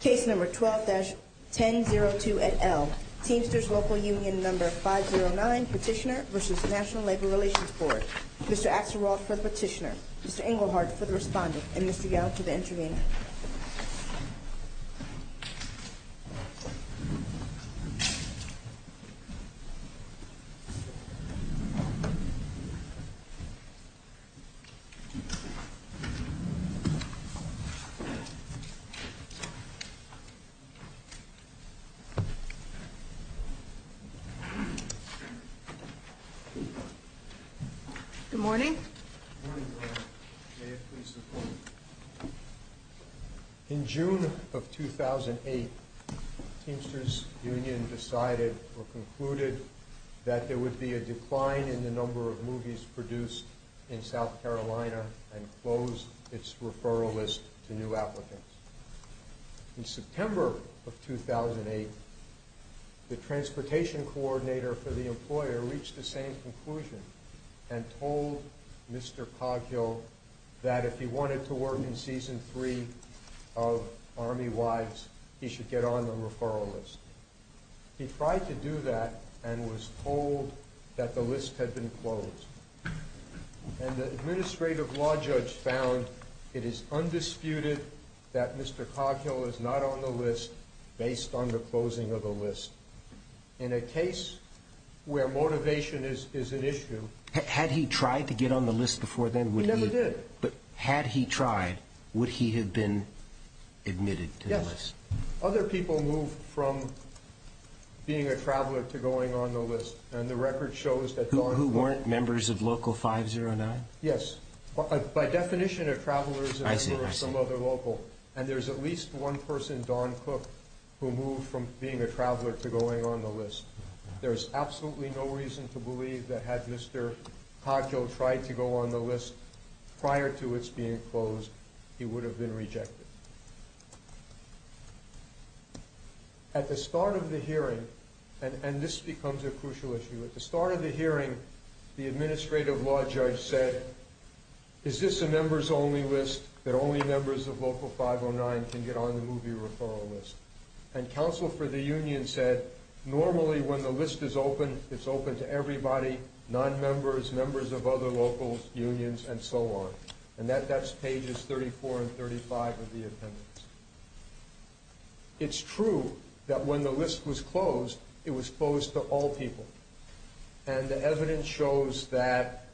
Case No. 12-1002 et al., Teamsters Local Union No. 509, Petitioner v. National Labor Relations Board Mr. Axelrod for the Petitioner, Mr. Engelhardt for the Respondent, and Mr. Gallo for the Intervenor In June of 2008, Teamsters Union decided or concluded that there would be a decline in the number of movies produced in South Carolina and closed its referral list to new applicants. In September of 2008, the Transportation Coordinator for the Employer reached the same conclusion and told Mr. Coggill that if he wanted to work in Season 3 of Army Wives, he should get on the referral list. He tried to do that and was told that the list had been closed. And the Administrative Law Judge found it is undisputed that Mr. Coggill is not on the list based on the closing of the list. In a case where motivation is an issue... Had he tried to get on the list before then? He never did. But had he tried, would he have been admitted to the list? Other people moved from being a traveler to going on the list. And the record shows that... Who weren't members of Local 509? Yes. By definition, a traveler is a member of some other local. And there's at least one person, Don Cook, who moved from being a traveler to going on the list. There's absolutely no reason to believe that had Mr. Coggill tried to go on the list prior to its being closed, he would have been rejected. At the start of the hearing... And this becomes a crucial issue. At the start of the hearing, the Administrative Law Judge said, Is this a members-only list that only members of Local 509 can get on the movie referral list? And Council for the Union said, Normally when the list is open, it's open to everybody, non-members, members of other local unions, and so on. And that's pages 34 and 35 of the appendix. It's true that when the list was closed, it was closed to all people. And the evidence shows that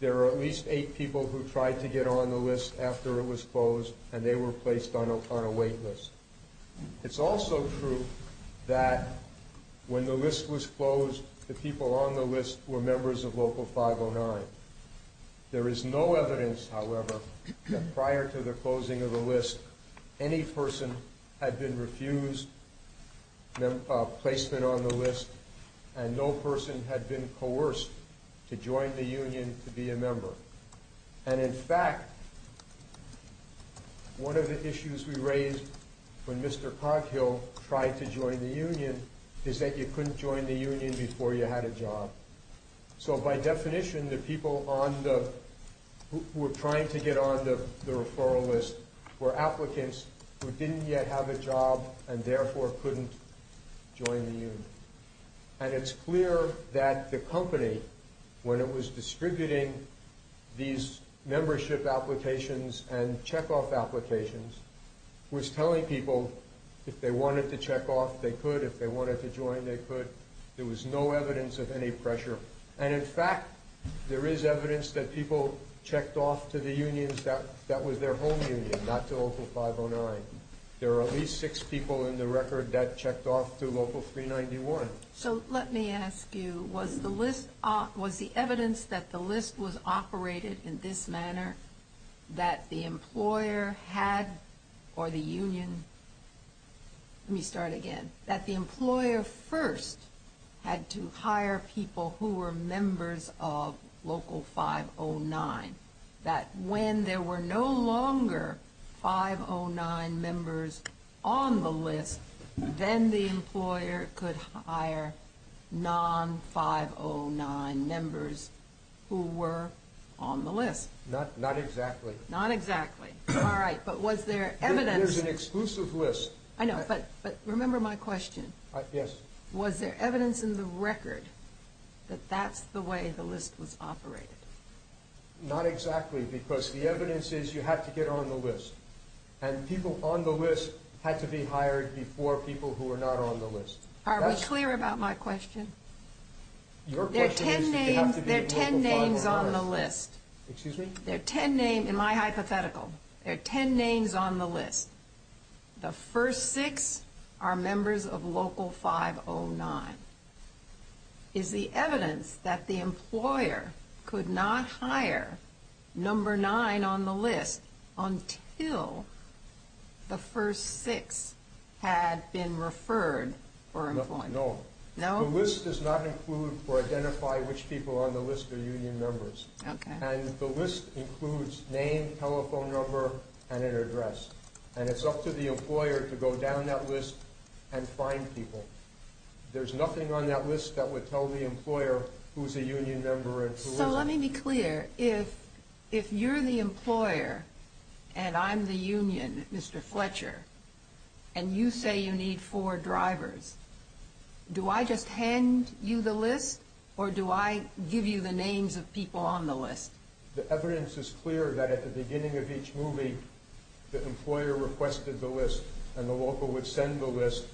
there are at least eight people who tried to get on the list after it was closed, and they were placed on a wait list. It's also true that when the list was closed, the people on the list were members of Local 509. There is no evidence, however, that prior to the closing of the list, any person had been refused placement on the list, and no person had been coerced to join the union to be a member. And in fact, one of the issues we raised when Mr. Coghill tried to join the union is that you couldn't join the union before you had a job. So by definition, the people who were trying to get on the referral list were applicants who didn't yet have a job and therefore couldn't join the union. And it's clear that the company, when it was distributing these membership applications and check-off applications, was telling people if they wanted to check off, they could. If they wanted to join, they could. There was no evidence of any pressure. And in fact, there is evidence that people checked off to the unions that was their home union, not to Local 509. There are at least six people in the record that checked off to Local 391. So let me ask you, was the list, was the evidence that the list was operated in this manner, that the employer had, or the union, let me start again, that the employer first had to hire people who were members of Local 509, that when there were no longer 509 members on the list, then the employer could hire non-509 members who were on the list? Not exactly. Not exactly. All right. But was there evidence? There's an exclusive list. I know, but remember my question. Yes. Was there evidence in the record that that's the way the list was operated? Not exactly, because the evidence is you have to get on the list. And people on the list had to be hired before people who were not on the list. Are we clear about my question? Your question is that they have to be Local 509. There are ten names on the list. Excuse me? There are ten names, in my hypothetical, there are ten names on the list. The first six are members of Local 509. Is the evidence that the employer could not hire number nine on the list until the first six had been referred for employment? No. No? The list does not include or identify which people on the list are union members. Okay. And the list includes name, telephone number, and an address. And it's up to the employer to go down that list and find people. There's nothing on that list that would tell the employer who's a union member and who isn't. So let me be clear. If you're the employer and I'm the union, Mr. Fletcher, and you say you need four drivers, do I just hand you the list or do I give you the names of people on the list? The evidence is clear that at the beginning of each movie, the employer requested the list and the local would send the list.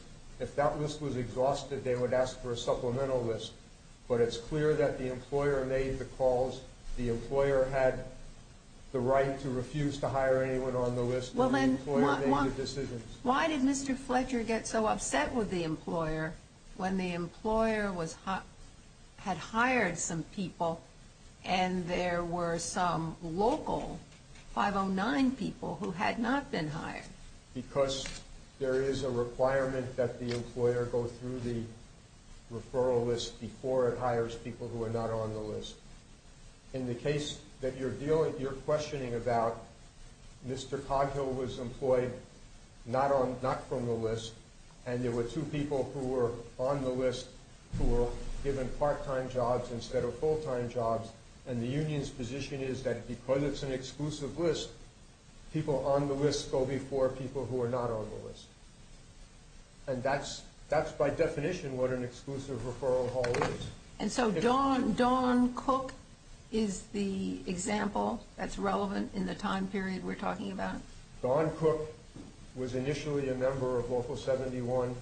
If that list was exhausted, they would ask for a supplemental list. But it's clear that the employer made the calls, the employer had the right to refuse to hire anyone on the list, and the employer made the decisions. Why did Mr. Fletcher get so upset with the employer when the employer had hired some people and there were some local 509 people who had not been hired? Because there is a requirement that the employer go through the referral list before it hires people who are not on the list. In the case that you're questioning about, Mr. Coghill was employed not from the list, and there were two people who were on the list who were given part-time jobs instead of full-time jobs, and the union's position is that because it's an exclusive list, people on the list go before people who are not on the list. And that's by definition what an exclusive referral hall is. And so Dawn Cook is the example that's relevant in the time period we're talking about? Dawn Cook was initially a member of Local 71.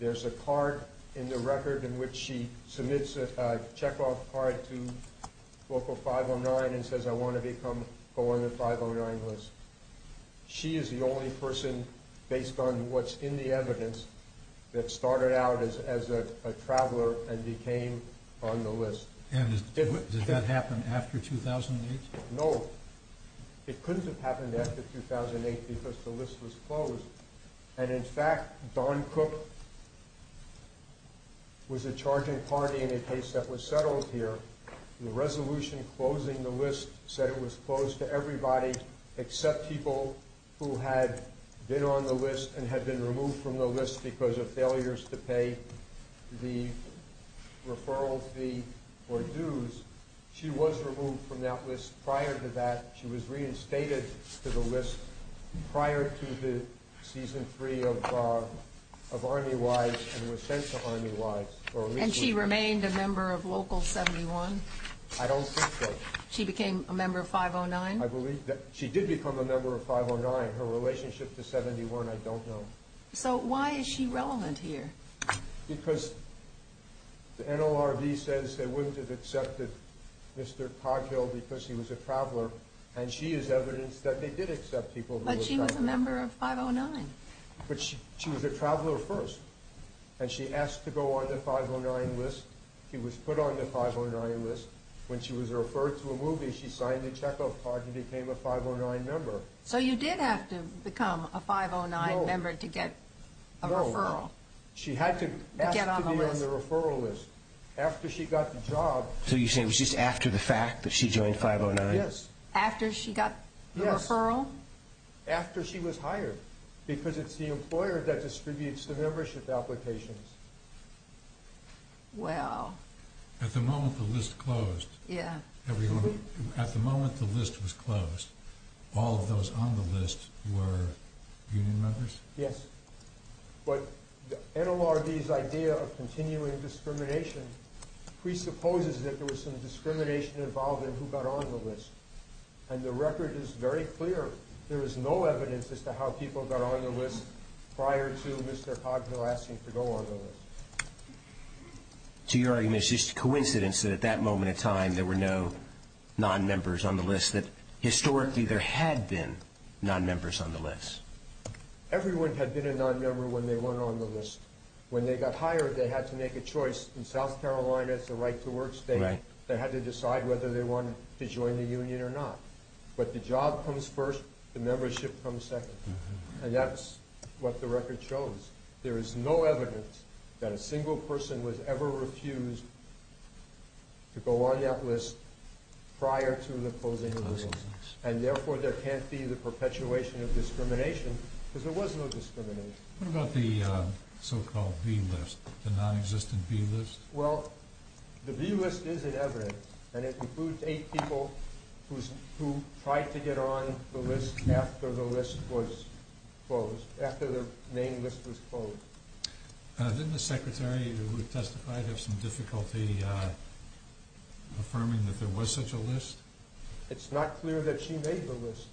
There's a card in the record in which she submits a check-off card to Local 509 and says, I want to go on the 509 list. She is the only person, based on what's in the evidence, that started out as a traveler and became on the list. And did that happen after 2008? No. It couldn't have happened after 2008 because the list was closed. And, in fact, Dawn Cook was a charging party in a case that was settled here. The resolution closing the list said it was closed to everybody except people who had been on the list and had been removed from the list because of failures to pay the referral fee or dues. She was removed from that list prior to that. She was reinstated to the list prior to the Season 3 of Army Wives and was sent to Army Wives. And she remained a member of Local 71? I don't think so. She became a member of 509? She did become a member of 509. Her relationship to 71, I don't know. So why is she relevant here? Because the NLRB says they wouldn't have accepted Mr. Coghill because he was a traveler, and she is evidence that they did accept people who were travelers. But she was a member of 509. But she was a traveler first, and she asked to go on the 509 list. She was put on the 509 list. When she was referred to a movie, she signed a checkoff card and became a 509 member. So you did have to become a 509 member to get a referral? No. She had to ask to be on the referral list. After she got the job... So you're saying it was just after the fact that she joined 509? Yes. After she got the referral? After she was hired. Because it's the employer that distributes the membership applications. Wow. At the moment the list closed. Yeah. At the moment the list was closed, all of those on the list were union members? Yes. But the NLRB's idea of continuing discrimination presupposes that there was some discrimination involved in who got on the list. And the record is very clear. There is no evidence as to how people got on the list prior to Mr. Cognell asking to go on the list. To your argument, it's just coincidence that at that moment in time there were no non-members on the list, that historically there had been non-members on the list? Everyone had been a non-member when they went on the list. When they got hired, they had to make a choice. In South Carolina, it's the right-to-work state. Right. They had to decide whether they wanted to join the union or not. But the job comes first, the membership comes second. And that's what the record shows. There is no evidence that a single person was ever refused to go on that list prior to the closing of the list. And therefore there can't be the perpetuation of discrimination, because there was no discrimination. What about the so-called B list, the non-existent B list? Well, the B list is an evidence, and it includes eight people who tried to get on the list after the name list was closed. Didn't the secretary who testified have some difficulty affirming that there was such a list? It's not clear that she made the list.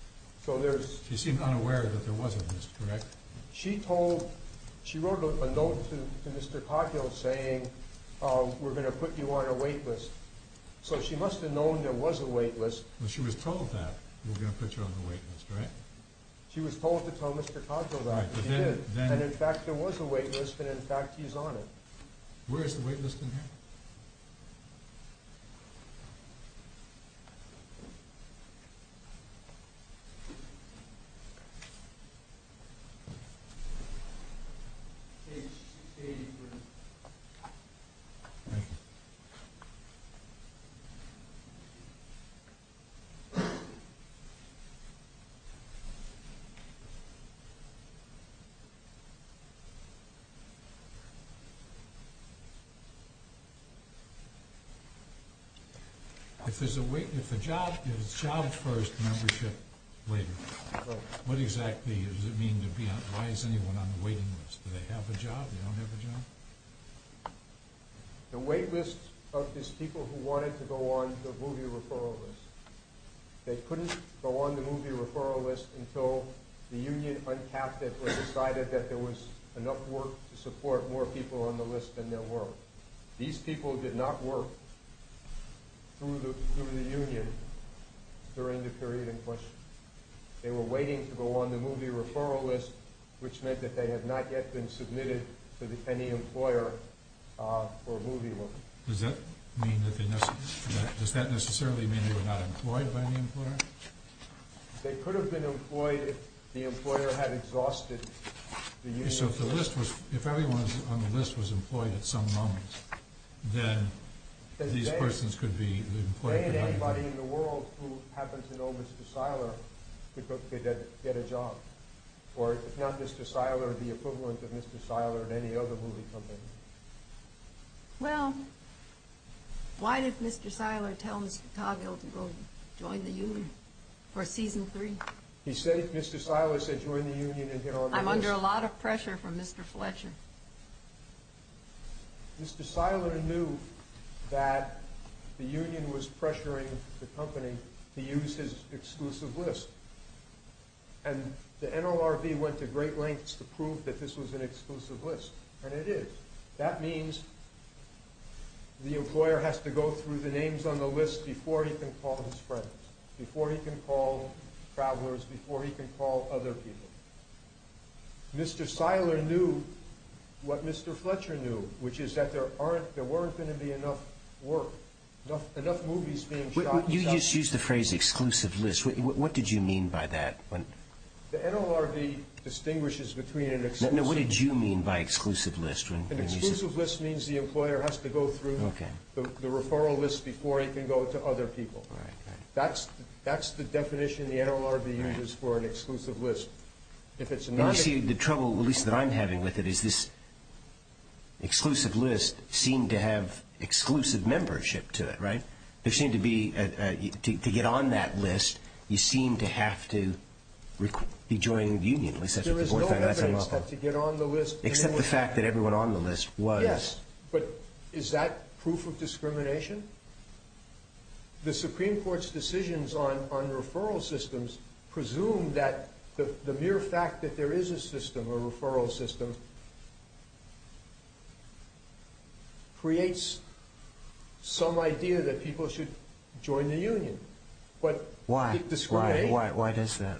She seemed unaware that there was a list, correct? She wrote a note to Mr. Cogdill saying, we're going to put you on a wait list. So she must have known there was a wait list. She was told that, we're going to put you on the wait list, right? She was told to tell Mr. Cogdill that. She did. And in fact, there was a wait list, and in fact, he's on it. Where is the wait list in here? Page 83. Thank you. If there's a job first, membership later, what exactly does it mean? Why is anyone on the waiting list? Do they have a job? They don't have a job? The wait list of these people who wanted to go on the movie referral list, they couldn't go on the movie referral list until the union uncapped it or decided that there was enough work to support more people on the list than there were. These people did not work through the union during the period in question. They were waiting to go on the movie referral list, which meant that they had not yet been submitted to any employer for a movie. Does that necessarily mean they were not employed by any employer? They could have been employed if the employer had exhausted the union. So if everyone on the list was employed at some moment, then these persons could be employed. Why can't anybody in the world who happens to know Mr. Seiler get a job, or if not Mr. Seiler, the equivalent of Mr. Seiler at any other movie company? Well, why did Mr. Seiler tell Mr. Cogill to go join the union for season three? Mr. Seiler said join the union and get on the list. I'm under a lot of pressure from Mr. Fletcher. Mr. Seiler knew that the union was pressuring the company to use his exclusive list, and the NLRB went to great lengths to prove that this was an exclusive list, and it is. That means the employer has to go through the names on the list before he can call his friends, before he can call travelers, before he can call other people. Mr. Seiler knew what Mr. Fletcher knew, which is that there weren't going to be enough work, enough movies being shot. You just used the phrase exclusive list. What did you mean by that? The NLRB distinguishes between an exclusive list. No, what did you mean by exclusive list? An exclusive list means the employer has to go through the referral list before he can go to other people. That's the definition the NLRB uses for an exclusive list. You see, the trouble, at least that I'm having with it, is this exclusive list seemed to have exclusive membership to it, right? To get on that list, you seem to have to be joining the union. There is no evidence that to get on the list... Except the fact that everyone on the list was... Yes, but is that proof of discrimination? The Supreme Court's decisions on referral systems presume that the mere fact that there is a system, a referral system, creates some idea that people should join the union. Why? Why does that?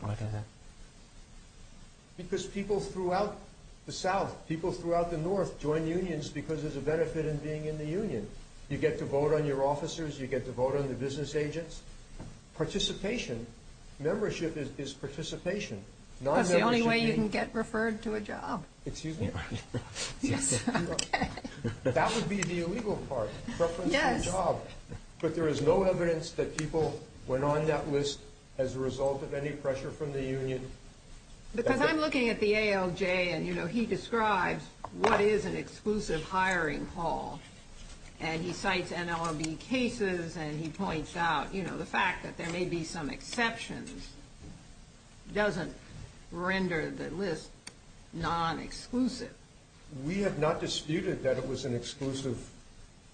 Because people throughout the South, people throughout the North, join unions because there's a benefit in being in the union. You get to vote on your officers, you get to vote on the business agents. Participation, membership is participation. That's the only way you can get referred to a job. Excuse me? Yes, okay. That would be the illegal part, preference for a job. Yes. But there is no evidence that people went on that list as a result of any pressure from the union. Because I'm looking at the ALJ and he describes what is an exclusive hiring hall. And he cites NLRB cases and he points out, you know, the fact that there may be some exceptions doesn't render the list non-exclusive. We have not disputed that it was an exclusive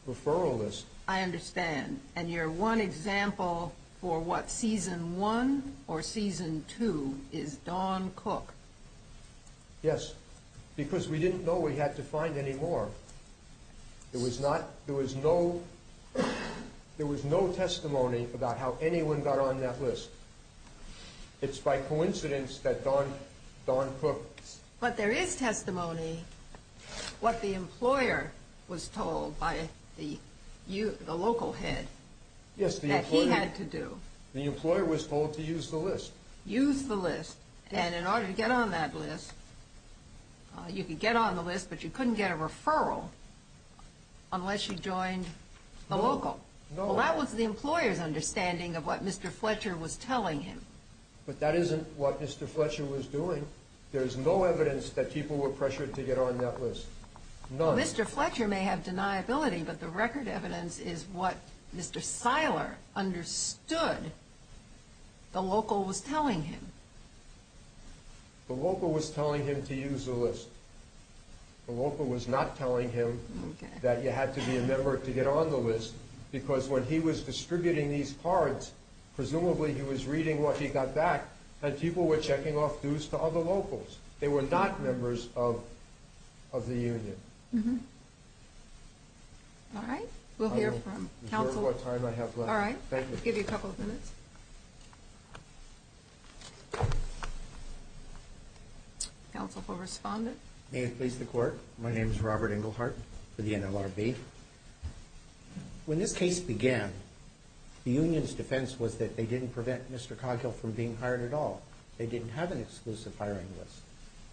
referral list. I understand. And your one example for what, season one or season two, is Don Cook. Yes, because we didn't know we had to find any more. There was no testimony about how anyone got on that list. It's by coincidence that Don Cook. But there is testimony what the employer was told by the local head that he had to do. The employer was told to use the list. Use the list. And in order to get on that list, you could get on the list, but you couldn't get a referral unless you joined the local. No. Well, that was the employer's understanding of what Mr. Fletcher was telling him. But that isn't what Mr. Fletcher was doing. There is no evidence that people were pressured to get on that list, none. Well, Mr. Fletcher may have deniability, but the record evidence is what Mr. Seiler understood the local was telling him. The local was telling him to use the list. The local was not telling him that you had to be a member to get on the list, because when he was distributing these cards, presumably he was reading what he got back, and people were checking off dues to other locals. They were not members of the union. All right. We'll hear from counsel. I don't know what time I have left. All right. Thank you. I'll give you a couple of minutes. Counsel will respond. May it please the Court. My name is Robert Englehart for the NLRB. When this case began, the union's defense was that they didn't prevent Mr. Coghill from being hired at all. They didn't have an exclusive hiring list.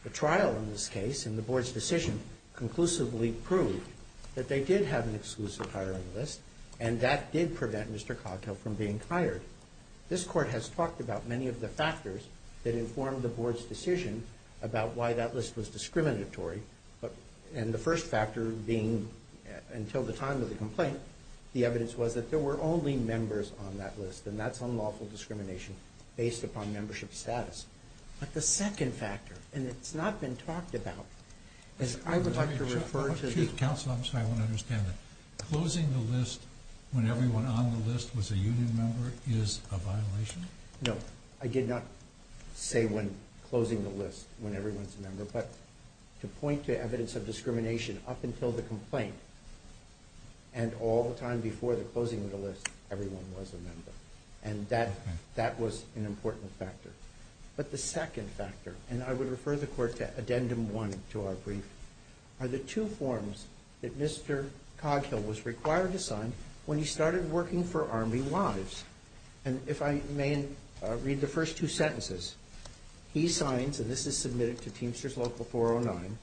The trial in this case and the Board's decision conclusively proved that they did have an exclusive hiring list, and that did prevent Mr. Coghill from being hired. This Court has talked about many of the factors that informed the Board's decision about why that list was discriminatory, and the first factor being, until the time of the complaint, the evidence was that there were only members on that list, and that's unlawful discrimination based upon membership status. But the second factor, and it's not been talked about, is I would like to refer to the... Counsel, I'm sorry. I don't understand it. Closing the list when everyone on the list was a union member is a violation? No. But to point to evidence of discrimination up until the complaint and all the time before the closing of the list, everyone was a member, and that was an important factor. But the second factor, and I would refer the Court to Addendum 1 to our brief, are the two forms that Mr. Coghill was required to sign when he started working for Army Wives. And if I may read the first two sentences. He signs, and this is submitted to Teamsters Local 409,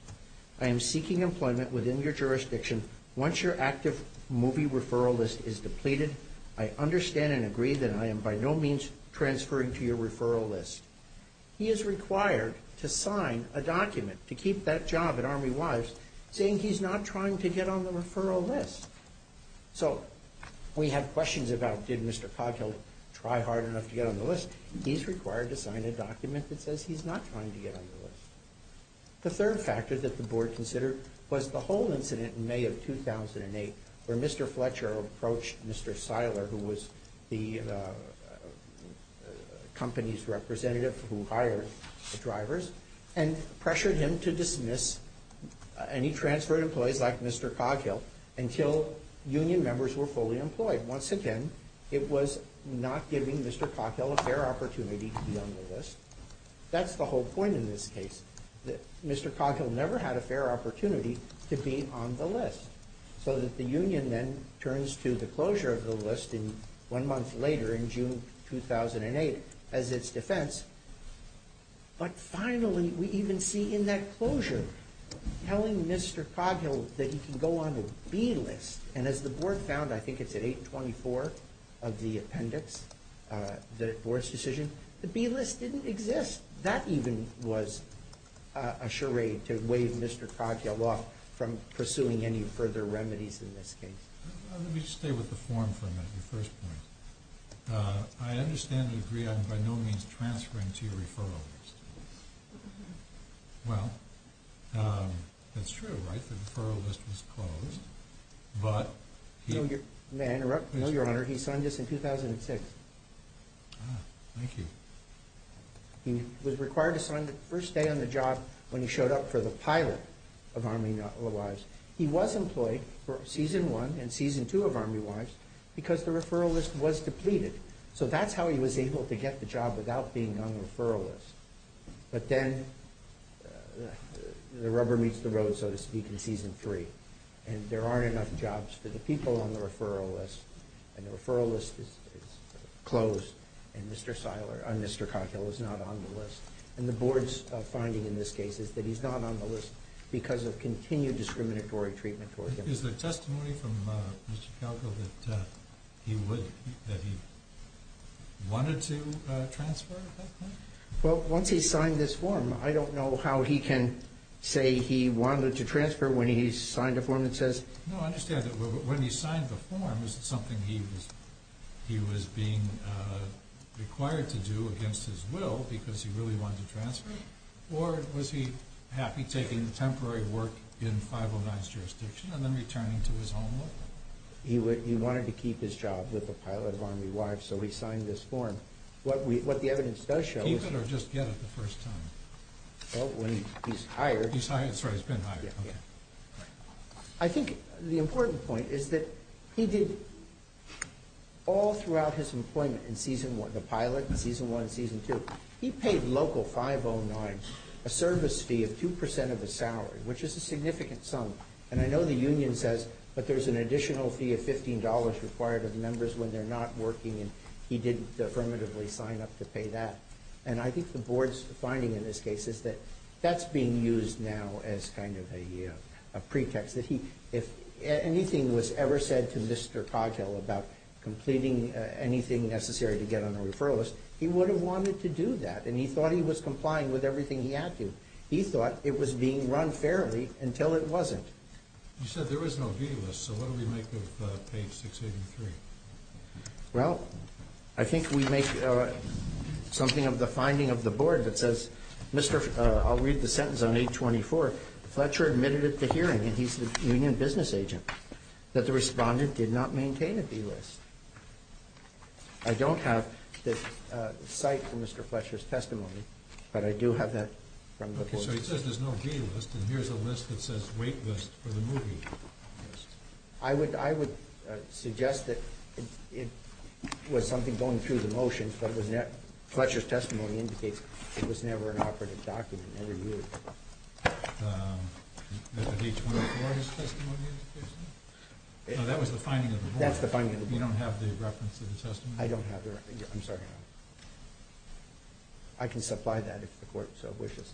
I am seeking employment within your jurisdiction once your active movie referral list is depleted. I understand and agree that I am by no means transferring to your referral list. He is required to sign a document to keep that job at Army Wives, saying he's not trying to get on the referral list. So we have questions about did Mr. Coghill try hard enough to get on the list. He's required to sign a document that says he's not trying to get on the list. The third factor that the Board considered was the whole incident in May of 2008 where Mr. Fletcher approached Mr. Seiler, who was the company's representative who hired the drivers, and pressured him to dismiss any transferred employees like Mr. Coghill until union members were fully employed. Once again, it was not giving Mr. Coghill a fair opportunity to be on the list. That's the whole point in this case, that Mr. Coghill never had a fair opportunity to be on the list. So that the union then turns to the closure of the list one month later in June 2008 as its defense. But finally, we even see in that closure, telling Mr. Coghill that he can go on a B-list. And as the Board found, I think it's at 824 of the appendix, the Board's decision, the B-list didn't exist. That even was a charade to waive Mr. Coghill off from pursuing any further remedies in this case. Let me just stay with the form for a minute, your first point. I understand and agree I'm by no means transferring to your referral list. Well, that's true, right? The referral list was closed, but... May I interrupt? No, Your Honor. He signed this in 2006. Ah, thank you. He was required to sign the first day on the job when he showed up for the pilot of Army Wives. He was employed for Season 1 and Season 2 of Army Wives because the referral list was depleted. So that's how he was able to get the job without being on the referral list. But then, the rubber meets the road, so to speak, in Season 3. And there aren't enough jobs for the people on the referral list. And the referral list is closed, and Mr. Coghill is not on the list. And the Board's finding in this case is that he's not on the list because of continued discriminatory treatment toward him. Is there testimony from Mr. Coghill that he wanted to transfer at that point? Well, once he's signed this form, I don't know how he can say he wanted to transfer when he's signed a form that says... No, I understand that when he signed the form, was it something he was being required to do against his will because he really wanted to transfer? Right. Or was he happy taking temporary work in 509's jurisdiction and then returning to his home look? He wanted to keep his job with the pilot of Army Wives, so he signed this form. What the evidence does show is... Keep it or just get it the first time? Well, when he's hired... He's hired? Sorry, he's been hired. Okay. I think the important point is that he did... All throughout his employment in Season 1, the pilot in Season 1 and Season 2, he paid local 509 a service fee of 2% of his salary, which is a significant sum. And I know the union says, but there's an additional fee of $15 required of members when they're not working, and he didn't affirmatively sign up to pay that. And I think the board's finding in this case is that that's being used now as kind of a pretext that he... If anything was ever said to Mr. Coghill about completing anything necessary to get on the referral list, he would have wanted to do that, and he thought he was complying with everything he had to. He thought it was being run fairly until it wasn't. You said there was no B list, so what do we make of page 683? Well, I think we make something of the finding of the board that says, I'll read the sentence on page 24. Fletcher admitted at the hearing, and he's the union business agent, that the respondent did not maintain a B list. I don't have the cite for Mr. Fletcher's testimony, but I do have that from the board. Okay, so he says there's no B list, and here's a list that says wait list for the movie list. I would suggest that it was something going through the motions, but Fletcher's testimony indicates it was never an operative document, never used. Is it page 24 of his testimony? No, that was the finding of the board. That's the finding of the board. You don't have the reference of the testimony? I don't have the reference. I'm sorry. I can supply that if the court so wishes.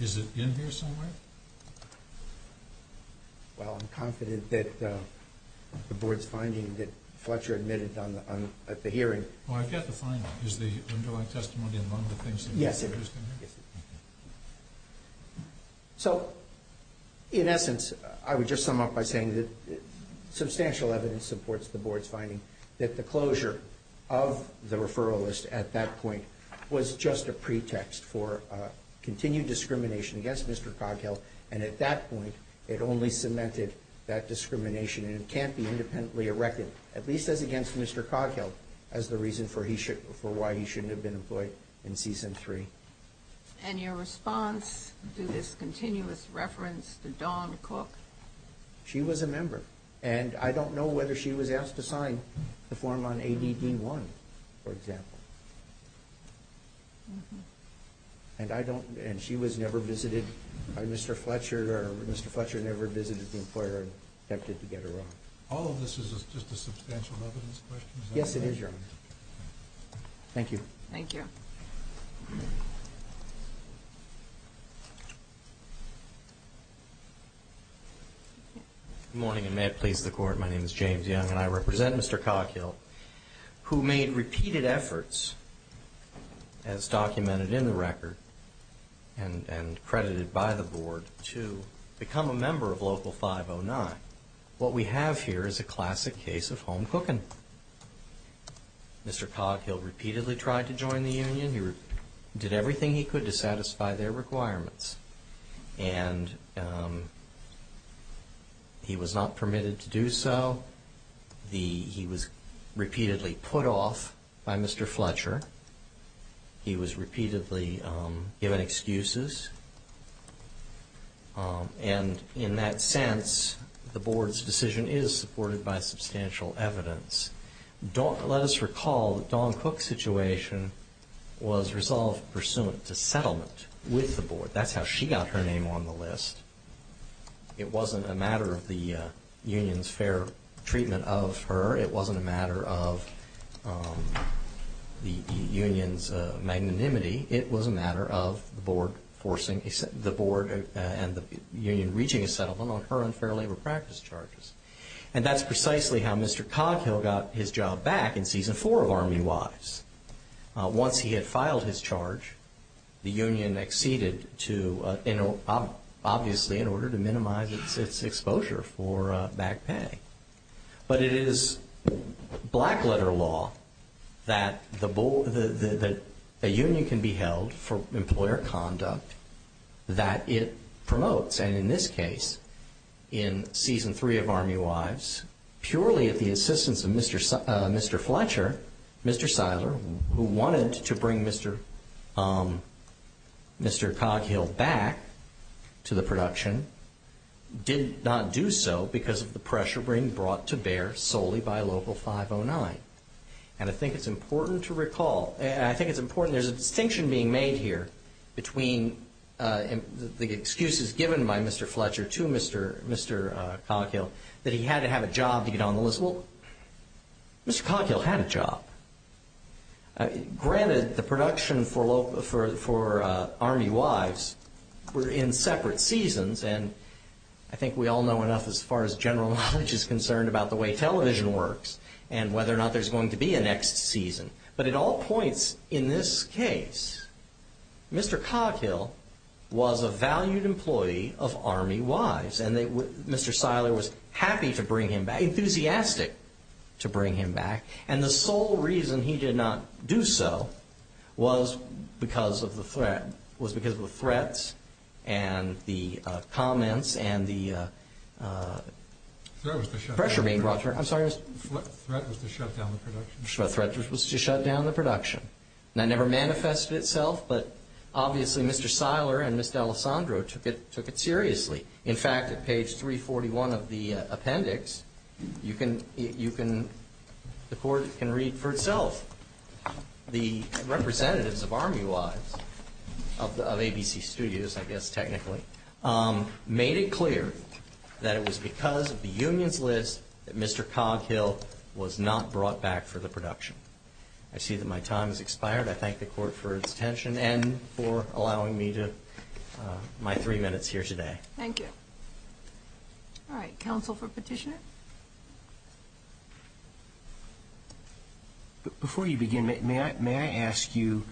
Is it in here somewhere? Well, I'm confident that the board's finding that Fletcher admitted at the hearing. Well, I've got the finding. Is the underlying testimony among the things that were used in here? Yes, it is. So, in essence, I would just sum up by saying that substantial evidence supports the board's finding that the closure of the referral list at that point was just a pretext for continued discrimination against Mr. Coghill, and at that point, it only cemented that discrimination, and it can't be independently erected, at least as against Mr. Coghill, as the reason for why he shouldn't have been employed in season three. And your response to this continuous reference to Dawn Cook? She was a member, and I don't know whether she was asked to sign the form on AD Dean 1, for example. And she was never visited by Mr. Fletcher, or Mr. Fletcher never visited the employer and attempted to get her out. All of this is just a substantial evidence question? Yes, it is, Your Honor. Thank you. Thank you. Good morning, and may it please the Court. My name is James Young, and I represent Mr. Coghill, who made repeated efforts, as documented in the record and credited by the board, to become a member of Local 509. What we have here is a classic case of home cooking. Mr. Coghill repeatedly tried to join the union. He did everything he could to satisfy their requirements, and he was not permitted to do so. He was repeatedly put off by Mr. Fletcher. He was repeatedly given excuses. And in that sense, the board's decision is supported by substantial evidence. Let us recall that Dawn Cook's situation was resolved pursuant to settlement with the board. That's how she got her name on the list. It wasn't a matter of the union's fair treatment of her. It wasn't a matter of the union's magnanimity. It was a matter of the board and the union reaching a settlement on her unfair labor practice charges. And that's precisely how Mr. Coghill got his job back in Season 4 of Army Wives. Once he had filed his charge, the union acceded to, obviously, in order to minimize its exposure for back pay. But it is black-letter law that a union can be held for employer conduct that it promotes. And in this case, in Season 3 of Army Wives, purely at the assistance of Mr. Fletcher, Mr. Seiler, who wanted to bring Mr. Coghill back to the production, did not do so because of the pressure being brought to bear solely by Local 509. And I think it's important to recall, and I think it's important, there's a distinction being made here between the excuses given by Mr. Fletcher to Mr. Coghill that he had to have a job to get on the list. Well, Mr. Coghill had a job. Granted, the production for Army Wives were in separate seasons, and I think we all know enough as far as general knowledge is concerned about the way television works and whether or not there's going to be a next season. But at all points in this case, Mr. Coghill was a valued employee of Army Wives, and Mr. Seiler was happy to bring him back, enthusiastic to bring him back. And the sole reason he did not do so was because of the threats and the comments and the pressure being brought to bear. What threat was to shut down the production? The threat was to shut down the production. That never manifested itself, but obviously Mr. Seiler and Ms. D'Alessandro took it seriously. In fact, at page 341 of the appendix, the Court can read for itself. The representatives of Army Wives, of ABC Studios I guess technically, made it clear that it was because of the unions list that Mr. Coghill was not brought back for the production. I thank the Court for its attention and for allowing me my three minutes here today. Thank you. All right, counsel for petition? Before you begin, may I ask you,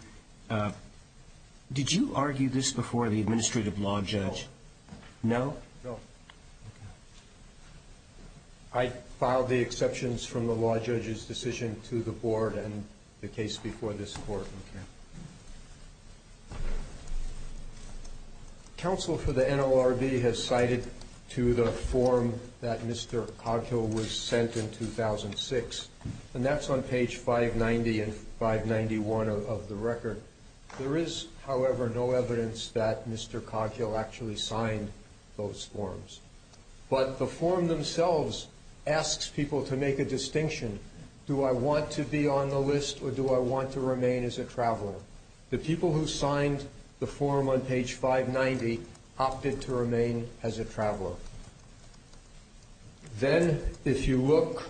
did you argue this before the administrative law judge? No. No? No. Okay. I filed the exceptions from the law judge's decision to the board and the case before this Court. Okay. Counsel for the NLRB has cited to the form that Mr. Coghill was sent in 2006, and that's on page 590 and 591 of the record. There is, however, no evidence that Mr. Coghill actually signed those forms. But the form themselves asks people to make a distinction. Do I want to be on the list or do I want to remain as a traveler? The people who signed the form on page 590 opted to remain as a traveler. Then if you look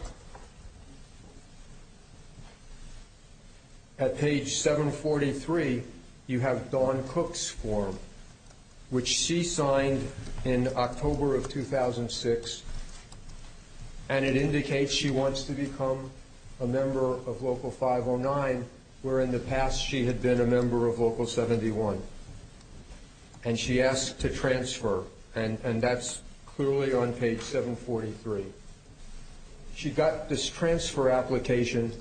at page 743, you have Dawn Cook's form, which she signed in October of 2006, and it indicates she wants to become a member of Local 509, where in the past she had been a member of Local 71. And she asked to transfer, and that's clearly on page 743. She got this transfer application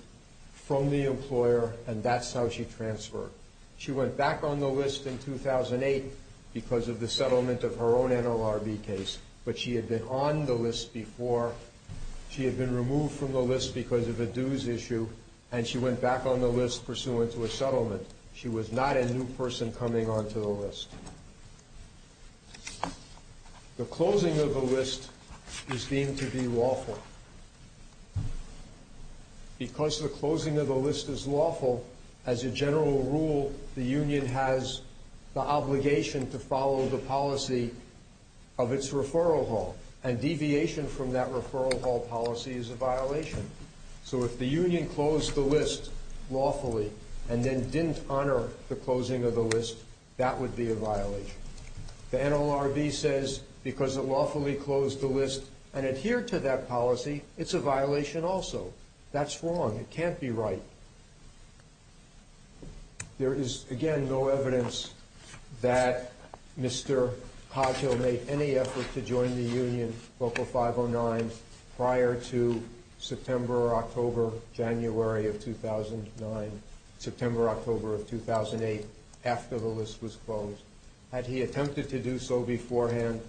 from the employer, and that's how she transferred. She went back on the list in 2008 because of the settlement of her own NLRB case, but she had been on the list before. She had been removed from the list because of a dues issue, and she went back on the list pursuant to a settlement. She was not a new person coming onto the list. The closing of the list is deemed to be lawful. Because the closing of the list is lawful, as a general rule, the union has the obligation to follow the policy of its referral hall, and deviation from that referral hall policy is a violation. So if the union closed the list lawfully and then didn't honor the closing of the list, that would be a violation. The NLRB says because it lawfully closed the list and adhered to that policy, it's a violation also. That's wrong. It can't be right. There is, again, no evidence that Mr. Poggio made any effort to join the union, Local 509, prior to September, October, January of 2009, September, October of 2008, after the list was closed. Had he attempted to do so beforehand,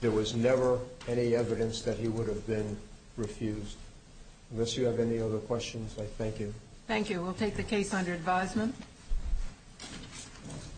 there was never any evidence that he would have been refused. Unless you have any other questions, I thank you. Thank you. We'll take the case under advisement.